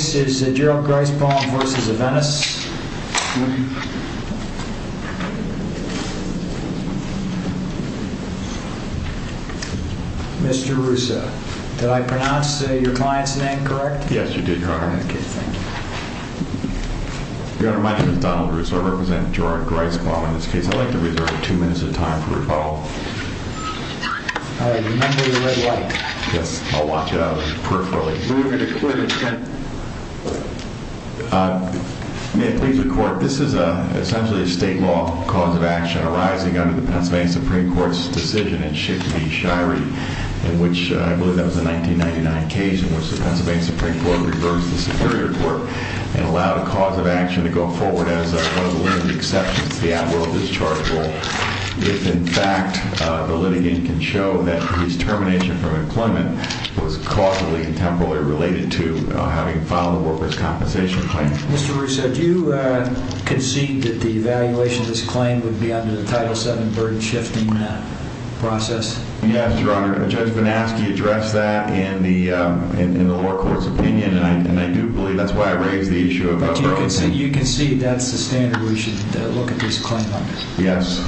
Mr. Russo, did I pronounce your client's name correct? Yes, you did, Your Honor. Okay, thank you. Your Honor, my name is Donald Russo. I represent Gerard Griesbaum. In this case, I'd like to reserve two minutes of time for rebuttal. All right, remember the red light. Yes, I'll watch out peripherally. Moving to Clinton 10. May it please the Court, this is essentially a state law cause of action arising under the Pennsylvania Supreme Court's decision in Schiff v. Shirey, in which, I believe that was the 1999 case in which the Pennsylvania Supreme Court reversed the Superior Court and allowed a cause of action to go forward as one of the limited exceptions to the at-will discharge rule. If, in fact, the litigant can show that his termination from employment was causally and temporally related to having filed a workers' compensation claim. Mr. Russo, do you concede that the evaluation of this claim would be under the Title VII burden-shifting process? Yes, Your Honor. Judge Vanaskie addressed that in the lower court's opinion, and I do believe that's why I raised the issue of that problem. But you concede that's the standard we should look at this claim under? Yes.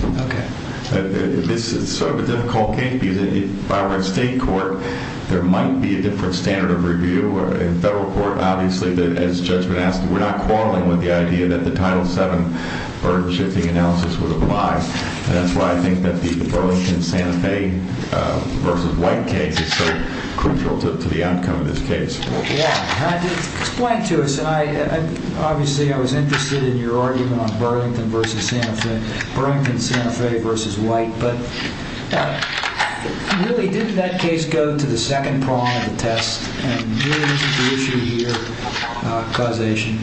This is sort of a difficult case because, by way of state court, there might be a different standard of review. In federal court, obviously, as Judge Vanaskie, we're not quarreling with the idea that the Title VII burden-shifting analysis would apply. And that's why I think that the Burlington-Santa Fe v. White case is so crucial to the outcome of this case. Explain to us. Obviously, I was interested in your argument on Burlington v. Santa Fe, Burlington-Santa Fe v. White. But really, didn't that case go to the second prong of the test? And really, isn't the issue here causation?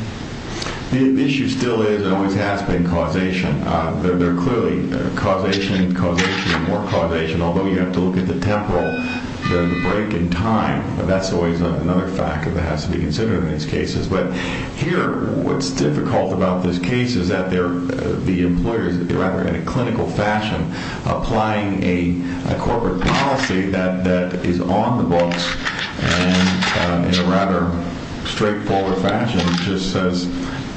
The issue still is and always has been causation. There are clearly causation, causation, and more causation, although you have to look at the temporal, the break in time. That's always another fact that has to be considered in these cases. But here, what's difficult about this case is that the employers, rather in a clinical fashion, applying a corporate policy that is on the books and in a rather straightforward fashion, just says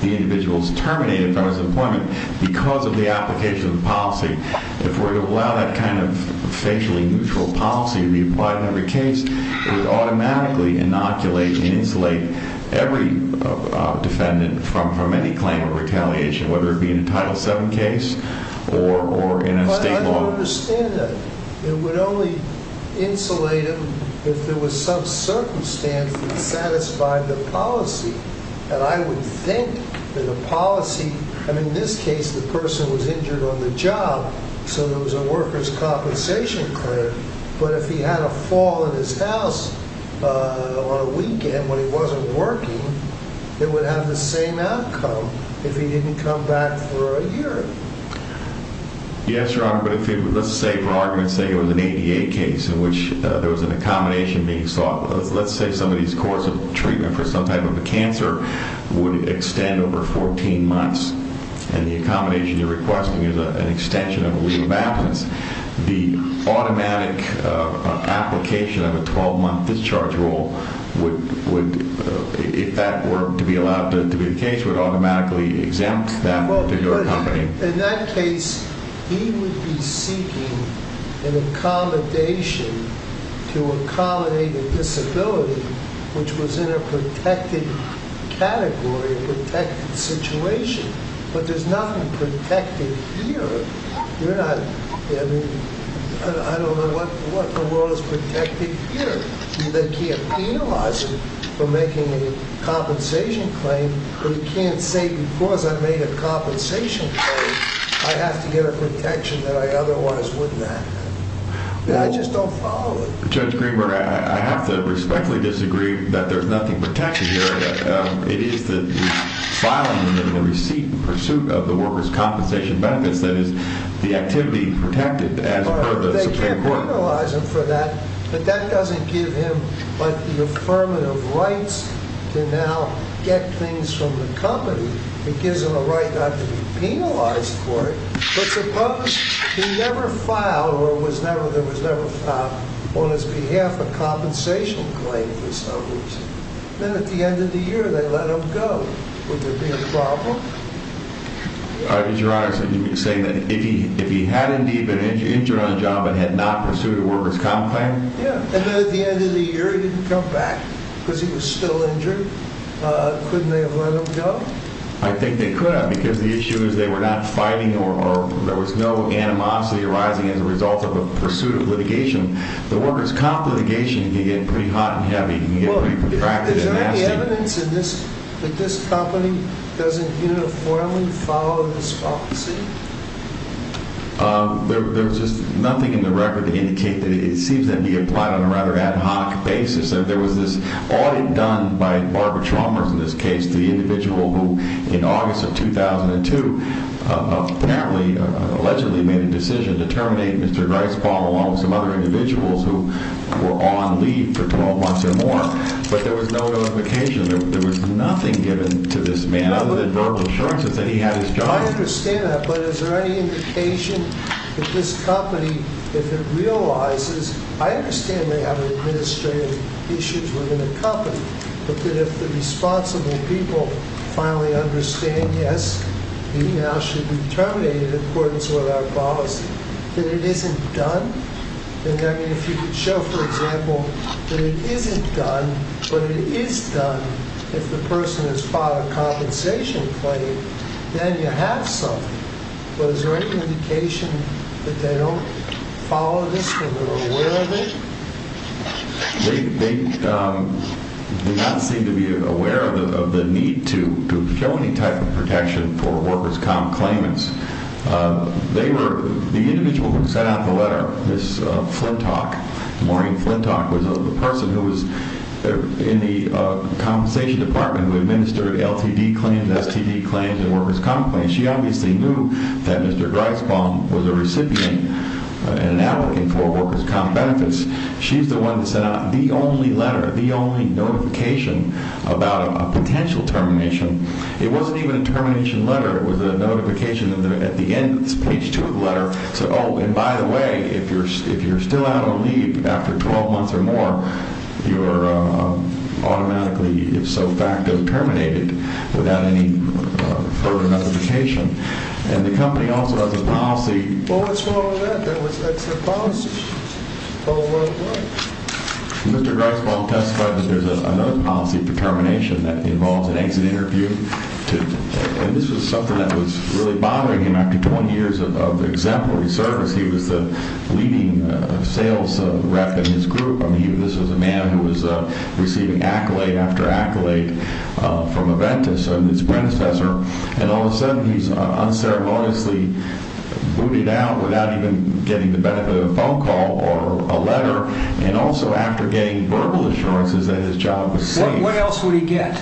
the individual is terminated from his employment because of the application of the policy. If we were to allow that kind of facially neutral policy to be applied in every case, it would automatically inoculate and insulate every defendant from any claim of retaliation, whether it be in a Title VII case or in a state law. I understand that. It would only insulate him if there was some circumstance that satisfied the policy. And I would think that the policy, I mean, in this case, the person was injured on the job, so there was a workers' compensation claim. But if he had a fall in his house on a weekend when he wasn't working, it would have the same outcome if he didn't come back for a year. Yes, Your Honor, but let's say for argument's sake it was an ADA case in which there was an accommodation being sought. Let's say somebody's course of treatment for some type of a cancer would extend over 14 months, and the accommodation you're requesting is an extension of a week of absence. The automatic application of a 12-month discharge rule would, if that were to be allowed to be the case, would automatically exempt them from your company. In that case, he would be seeking an accommodation to accommodate a disability which was in a protected category, a protected situation. But there's nothing protected here. You're not, I mean, I don't know what in the world is protected here. They can't penalize him for making a compensation claim, but he can't say, because I made a compensation claim, I have to get a protection that I otherwise wouldn't have. I just don't follow it. Judge Greenberg, I have to respectfully disagree that there's nothing protected here. It is the filing of the receipt in pursuit of the workers' compensation benefits that is the activity protected as per the Supreme Court. You can penalize him for that, but that doesn't give him the affirmative rights to now get things from the company. It gives him the right not to be penalized for it. But suppose he never filed or there was never on his behalf a compensation claim for some reason. Then at the end of the year, they let him go. Would there be a problem? Your Honor, you're saying that if he had indeed been injured on the job and had not pursued a workers' comp claim? Yeah. And then at the end of the year, he didn't come back because he was still injured. Couldn't they have let him go? I think they could have because the issue is they were not fighting or there was no animosity arising as a result of a pursuit of litigation. The workers' comp litigation can get pretty hot and heavy and can get pretty protracted and nasty. Is there evidence that this company doesn't uniformly follow this policy? There's just nothing in the record to indicate that it seems to be applied on a rather ad hoc basis. There was this audit done by Barbara Chalmers in this case, the individual who, in August of 2002, apparently, allegedly made a decision to terminate Mr. Greisbaum along with some other individuals who were on leave for 12 months or more. But there was no notification. There was nothing given to this man other than verbal assurances that he had his job. I understand that. But is there any indication that this company, if it realizes—I understand they have administrative issues within the company, but that if the responsible people finally understand, yes, the email should be terminated in accordance with our policy, that it isn't done? I mean, if you could show, for example, that it isn't done, but it is done if the person has filed a compensation claim, then you have something. But is there any indication that they don't follow this, that they're aware of it? They do not seem to be aware of the need to show any type of protection for workers' comp claimants. They were—the individual who sent out the letter, Ms. Flintock, Maureen Flintock, was the person who was in the compensation department who administered LTD claims, STD claims, and workers' comp claims. She obviously knew that Mr. Greisbaum was a recipient and an applicant for workers' comp benefits. She's the one that sent out the only letter, the only notification about a potential termination. It wasn't even a termination letter. It was a notification at the end, page 2 of the letter, saying, oh, and by the way, if you're still out on leave after 12 months or more, you're automatically, if so facto, terminated without any further notification. And the company also has a policy— Well, what's wrong with that? That's their policy all over the world. Mr. Greisbaum testified that there's another policy for termination that involves an exit interview. And this was something that was really bothering him. After 20 years of exemplary service, he was the leading sales rep in his group. I mean, this was a man who was receiving accolade after accolade from Aventis and his predecessor. And all of a sudden, he's unceremoniously booted out without even getting the benefit of a phone call or a letter. And also after getting verbal assurances that his job was safe. What else would he get?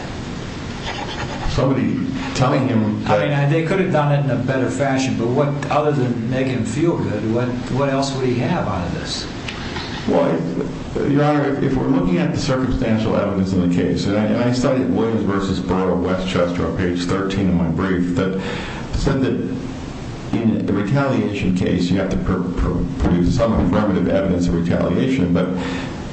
Somebody telling him— I mean, they could have done it in a better fashion. But other than make him feel good, what else would he have out of this? Well, Your Honor, if we're looking at the circumstantial evidence in the case, and I studied Williams v. Borough of Westchester on page 13 of my brief, that said that in a retaliation case, you have to produce some affirmative evidence of retaliation, but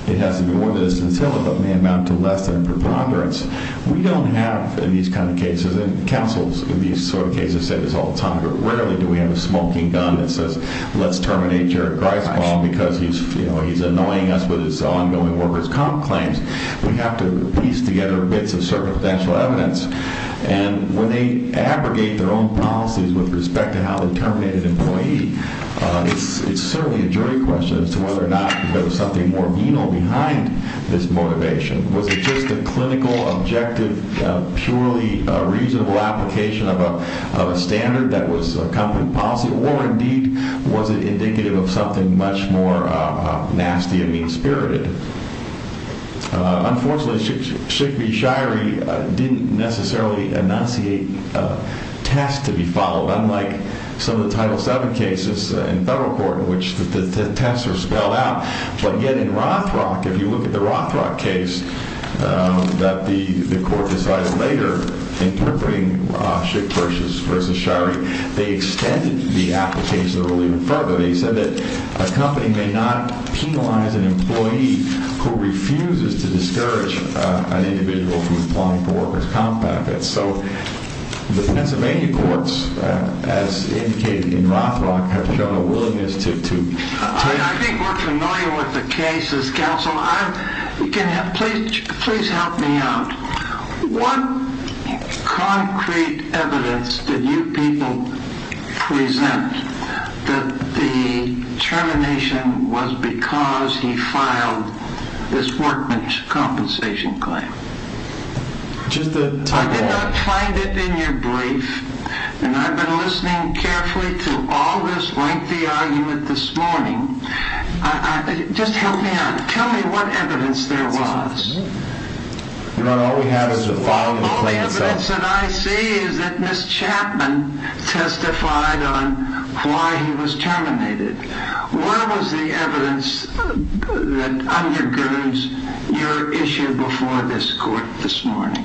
it has to be more than a scintilla, but may amount to less than a preponderance. We don't have, in these kind of cases, and counsels in these sort of cases say this all the time, but rarely do we have a smoking gun that says, let's terminate Jared Greisbaum because he's annoying us with his ongoing workers' comp claims. We have to piece together bits of circumstantial evidence. And when they abrogate their own policies with respect to how they terminate an employee, it's certainly a jury question as to whether or not there was something more venal behind this motivation. Was it just a clinical, objective, purely reasonable application of a standard that was a company policy? Or, indeed, was it indicative of something much more nasty and mean-spirited? Unfortunately, Schick v. Shirey didn't necessarily enunciate a test to be followed, unlike some of the Title VII cases in federal court in which the tests are spelled out. But yet in Rothrock, if you look at the Rothrock case that the court decided later, interpreting Schick versus Shirey, they extended the application of the rule even further. He said that a company may not penalize an employee who refuses to discourage an individual from applying for workers' comp packets. So the Pennsylvania courts, as indicated in Rothrock, have shown a willingness to take— I think we're familiar with the cases, counsel. Please help me out. What concrete evidence did you people present that the termination was because he filed this workman's compensation claim? I did not find it in your brief, and I've been listening carefully to all this lengthy argument this morning. Just help me out. Tell me what evidence there was. Your Honor, all we have is the filing of the claim itself. All the evidence that I see is that Ms. Chapman testified on why he was terminated. Where was the evidence that undergirds your issue before this court this morning?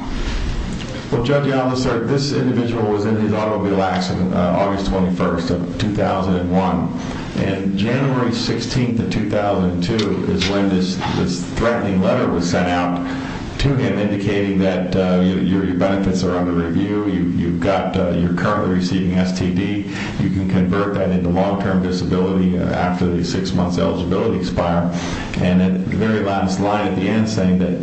Well, Judge Allison, this individual was in his automobile accident August 21st of 2001. And January 16th of 2002 is when this threatening letter was sent out to him indicating that your benefits are under review. You've got—you're currently receiving STD. You can convert that into long-term disability after the six months eligibility expire. And at the very last line at the end saying that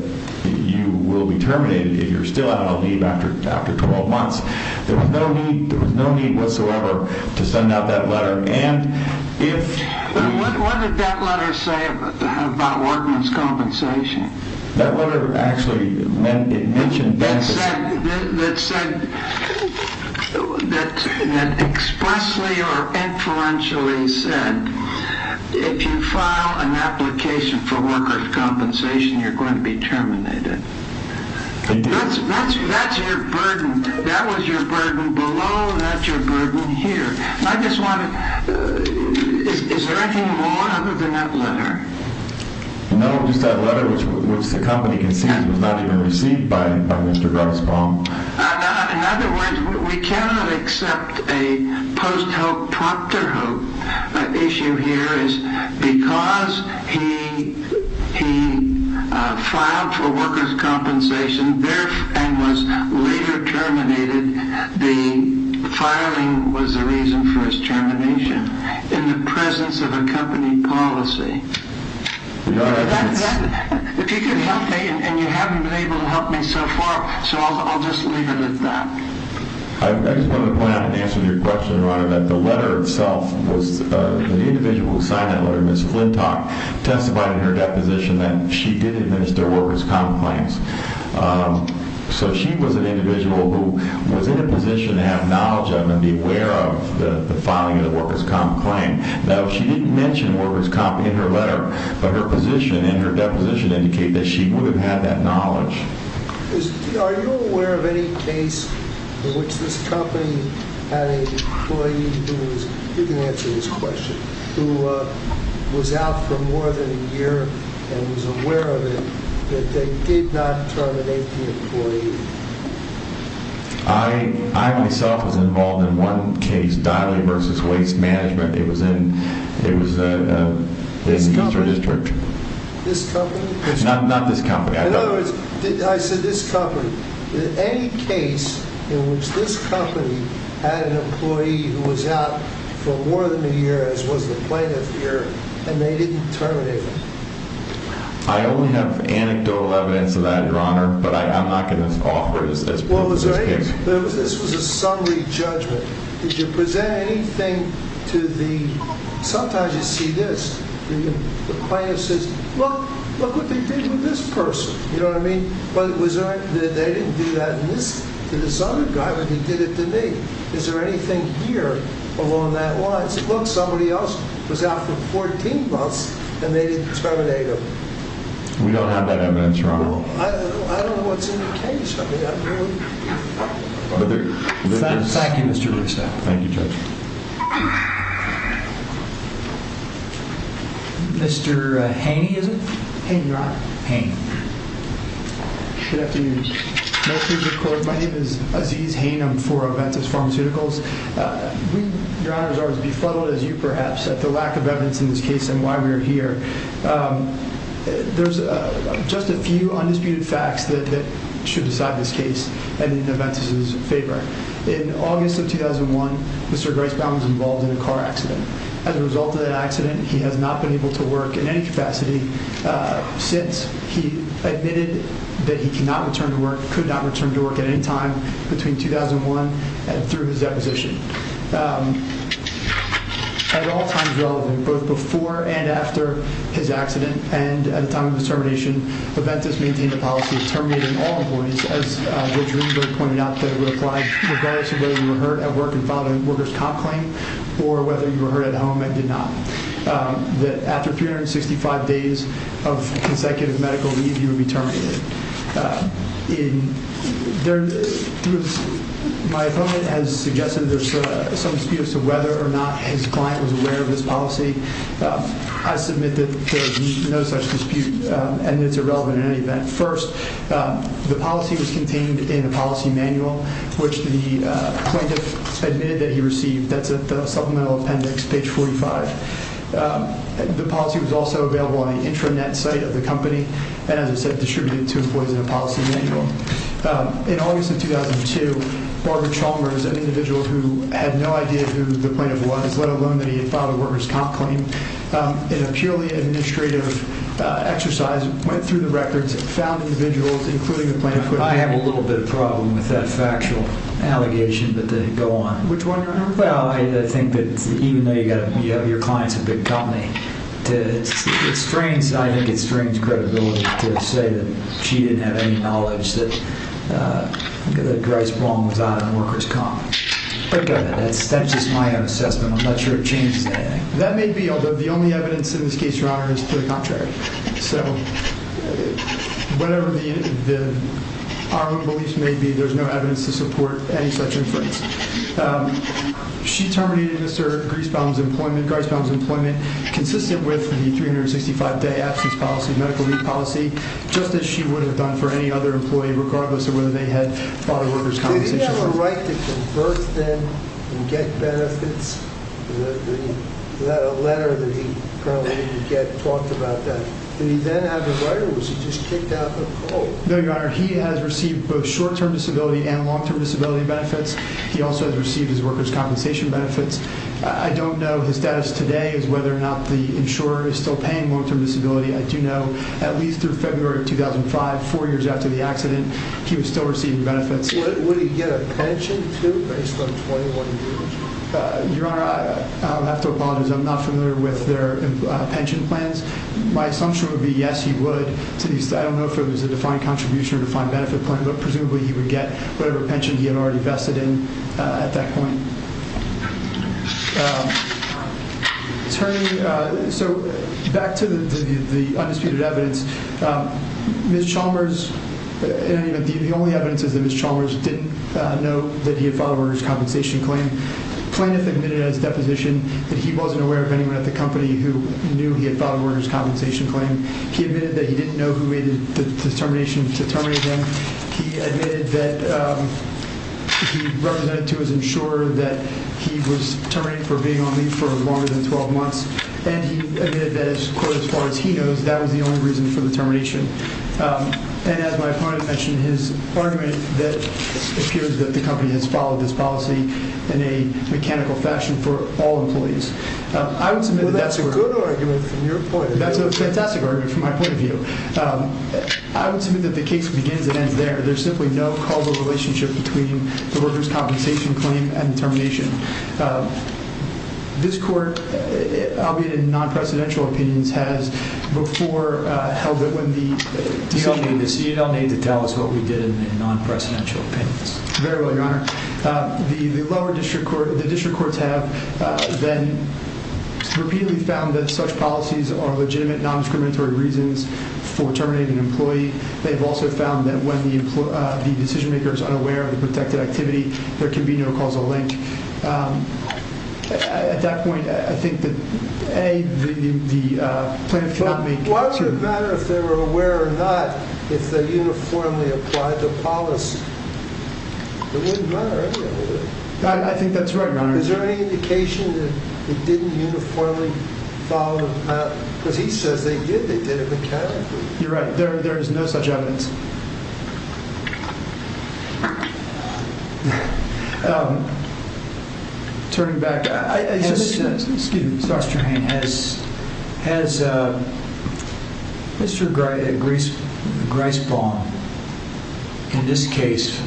you will be terminated if you're still out on leave after 12 months. There was no need whatsoever to send out that letter. And if— What did that letter say about workman's compensation? That letter actually mentioned benefits— That said—that expressly or inferentially said if you file an application for worker's compensation, you're going to be terminated. That's your burden. That was your burden below. That's your burden here. And I just want to—is there anything more other than that letter? No, just that letter, which the company concedes was not even received by Mr. Grossbaum. In other words, we cannot accept a post-help, prompter-help issue here is because he filed for worker's compensation and was later terminated. The filing was the reason for his termination in the presence of a company policy. If you could help me, and you haven't been able to help me so far, so I'll just leave it at that. I just want to point out in answer to your question, Your Honor, that the letter itself was—the individual who signed that letter, Ms. Flintock, testified in her deposition that she did administer worker's comp claims. So she was an individual who was in a position to have knowledge of and be aware of the filing of the worker's comp claim. Now, she didn't mention worker's comp in her letter, but her position in her deposition indicated that she would have had that knowledge. Are you aware of any case in which this company had an employee who was—you can answer this question—who was out for more than a year and was aware of it that they did not terminate the employee? I myself was involved in one case, Diley v. Waste Management. It was in the Eastern District. This company? Not this company. I don't know. In other words, I said this company. Any case in which this company had an employee who was out for more than a year, as was the plaintiff here, and they didn't terminate him? I only have anecdotal evidence of that, Your Honor, but I'm not going to offer it as proof of this case. Well, was there anything—this was a summary judgment. Did you present anything to the—sometimes you see this. The plaintiff says, look, look what they did with this person. You know what I mean? But was there—they didn't do that to this other guy, but they did it to me. Is there anything here along that line? I said, look, somebody else was out for 14 months and they didn't terminate him. We don't have that evidence, Your Honor. Well, I don't know what's in the case. I mean, I'm really— Thank you, Mr. Russo. Thank you, Judge. Mr. Haney, is it? Haney, Your Honor. Haney. Good afternoon. My name is Aziz Haney. I'm for Aventus Pharmaceuticals. We, Your Honors, are as befuddled as you perhaps at the lack of evidence in this case and why we are here. There's just a few undisputed facts that should decide this case, and in Aventus' favor. In August of 2001, Mr. Gricebaum was involved in a car accident. As a result of that accident, he has not been able to work in any capacity since. He admitted that he could not return to work at any time between 2001 and through his deposition. At all times relevant, both before and after his accident and at the time of his termination, Aventus maintained a policy of terminating all employees, as Judge Greenberg pointed out, that it would apply regardless of whether you were heard at work and filed a worker's comp claim or whether you were heard at home and did not. After 365 days of consecutive medical leave, you would be terminated. My opponent has suggested there's some disputes as to whether or not his client was aware of this policy. I submit that there is no such dispute and it's irrelevant in any event. First, the policy was contained in the policy manual, which the plaintiff admitted that he received. That's at the supplemental appendix, page 45. The policy was also available on the intranet site of the company and, as I said, distributed to employees in a policy manual. In August of 2002, Barbara Chalmers, an individual who had no idea who the plaintiff was, let alone that he had filed a worker's comp claim, in a purely administrative exercise, went through the records, found individuals, including the plaintiff. I have a little bit of a problem with that factual allegation that they go on. Which one? Well, I think that even though your client's a big company, I think it strains credibility to say that she didn't have any knowledge that that Grice Wong was on a worker's comp. That's just my own assessment. I'm not sure it changes anything. That may be, although the only evidence in this case, Your Honor, is to the contrary. So whatever our own beliefs may be, there's no evidence to support any such inference. She terminated Mr. Grice Wong's employment, consistent with the 365-day absence policy, medical leave policy, just as she would have done for any other employee, regardless of whether they had filed a worker's compensation. Did he have a right to converse then and get benefits? Was that a letter that he probably didn't get, talked about that? Did he then have the right, or was he just kicked out the call? No, Your Honor. He has received both short-term disability and long-term disability benefits. He also has received his worker's compensation benefits. I don't know his status today as whether or not the insurer is still paying long-term disability. I do know at least through February of 2005, four years after the accident, he was still receiving benefits. Would he get a pension, too, based on 21 years? Your Honor, I have to apologize. I'm not familiar with their pension plans. My assumption would be yes, he would. I don't know if it was a defined contribution or a defined benefit plan, but presumably he would get whatever pension he had already vested in at that point. So back to the undisputed evidence. Ms. Chalmers, the only evidence is that Ms. Chalmers didn't know that he had filed a worker's compensation claim. Plaintiff admitted at his deposition that he wasn't aware of anyone at the company who knew he had filed a worker's compensation claim. He admitted that he didn't know who made the determination to terminate him. He admitted that he represented to his insurer that he was terminating for being on leave for longer than 12 months. And he admitted that, as far as he knows, that was the only reason for the termination. And as my opponent mentioned, his argument that it appears that the company has followed this policy in a mechanical fashion for all employees. Well, that's a good argument from your point of view. That's a fantastic argument from my point of view. I would submit that the case begins and ends there. There's simply no causal relationship between the worker's compensation claim and the termination. This court, albeit in non-presidential opinions, has before held that when the- You don't need to tell us what we did in the non-presidential opinions. Very well, Your Honor. The lower district court, the district courts have then repeatedly found that such policies are legitimate non-discriminatory reasons for terminating an employee. They've also found that when the decision-maker is unaware of the protected activity, there can be no causal link. At that point, I think that, A, the plaintiff cannot make- Well, why would it matter if they were aware or not if they uniformly applied the policy? It wouldn't matter, would it? I think that's right, Your Honor. Is there any indication that they didn't uniformly follow the policy? Because he says they did. They did it mechanically. You're right. There is no such evidence. Turning back- Excuse me. Has Mr. Greisbaum, in this case,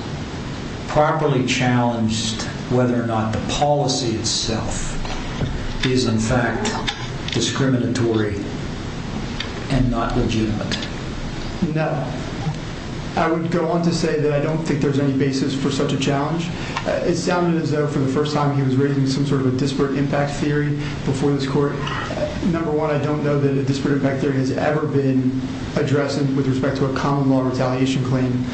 properly challenged whether or not the policy itself is in fact discriminatory and not legitimate? No. I would go on to say that I don't think there's any basis for such a challenge. It sounded as though, for the first time, he was raising some sort of a disparate impact theory before this court. Number one, I don't know that a disparate impact theory has ever been addressed with respect to a common law retaliation claim,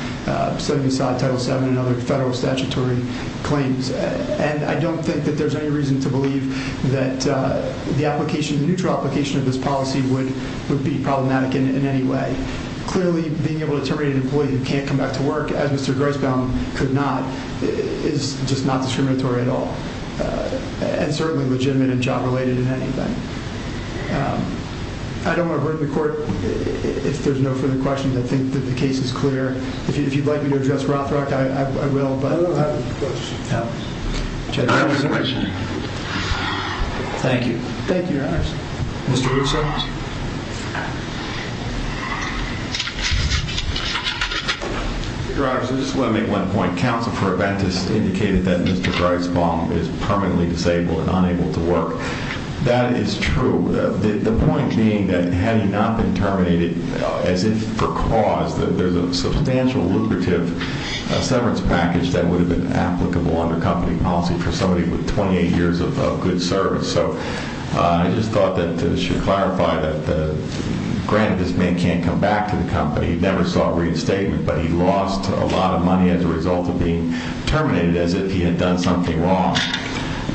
setting aside Title VII and other federal statutory claims. And I don't think that there's any reason to believe that the neutral application of this policy would be problematic in any way. Clearly, being able to terminate an employee who can't come back to work, as Mr. Greisbaum could not, is just not discriminatory at all. And certainly legitimate and job-related in any way. I don't want to hurt the court. If there's no further questions, I think that the case is clear. If you'd like me to address Rothrock, I will, but I don't have any questions. No. Thank you. Thank you, Your Honors. Mr. Woodson? Your Honors, I just want to make one point. Counsel for Aventis indicated that Mr. Greisbaum is permanently disabled and unable to work. That is true. The point being that had he not been terminated, as if for cause, that there's a substantial lucrative severance package that would have been applicable under company policy for somebody with 28 years of good service. So I just thought that this should clarify that, granted, this man can't come back to the company. He never sought reinstatement, but he lost a lot of money as a result of being terminated, as if he had done something wrong.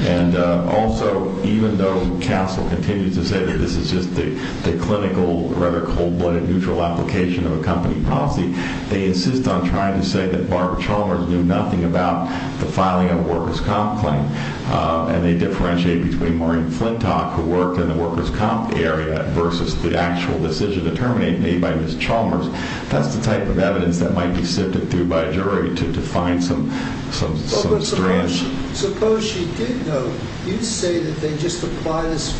And also, even though CASEL continues to say that this is just the clinical, rather cold-blooded, neutral application of a company policy, they insist on trying to say that Barbara Chalmers knew nothing about the filing of a workers' comp claim. And they differentiate between Maureen Flintock, who worked in the workers' comp area, versus the actual decision to terminate me by Ms. Chalmers. That's the type of evidence that might be sifted through by a jury to find some strands. Suppose she did know. You say that they just apply this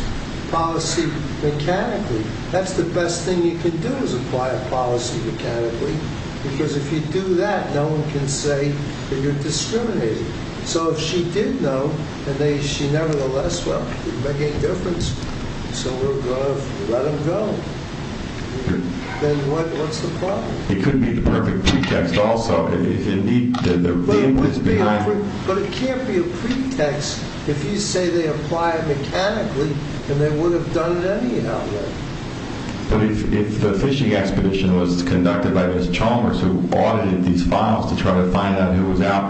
policy mechanically. That's the best thing you can do, is apply a policy mechanically. Because if you do that, no one can say that you're discriminating. So if she did know, and she nevertheless, well, it wouldn't make any difference. So we're going to let them go. Then what's the problem? It could be the perfect pretext also. But it can't be a pretext. If you say they apply it mechanically, then they would have done it anyhow. But if the phishing expedition was conducted by Ms. Chalmers, who audited these files to try to find out who was out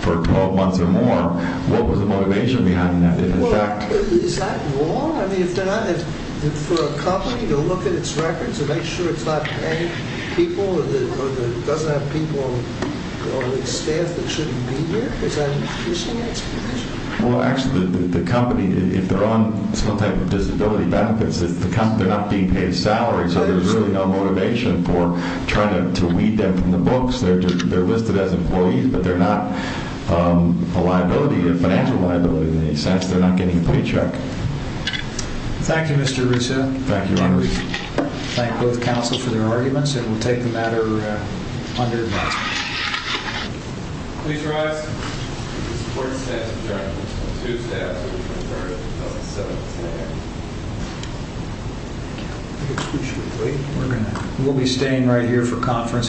for 12 months or more, what was the motivation behind that? Is that war? I mean, for a company to look at its records and make sure it's not paying people or doesn't have people on its staff that shouldn't be here? Is that a phishing expedition? Well, actually, the company, if they're on some type of disability benefits, they're not being paid a salary. So there's really no motivation for trying to weed them from the books. They're listed as employees, but they're not a liability, a financial liability in any sense. They're not getting a paycheck. Thank you, Mr. Russo. Thank you, Ron Russo. Thank both counsel for their arguments. And we'll take the matter under advance. Please rise. This court stands adjourned until Tuesday, October 23rd, 2017.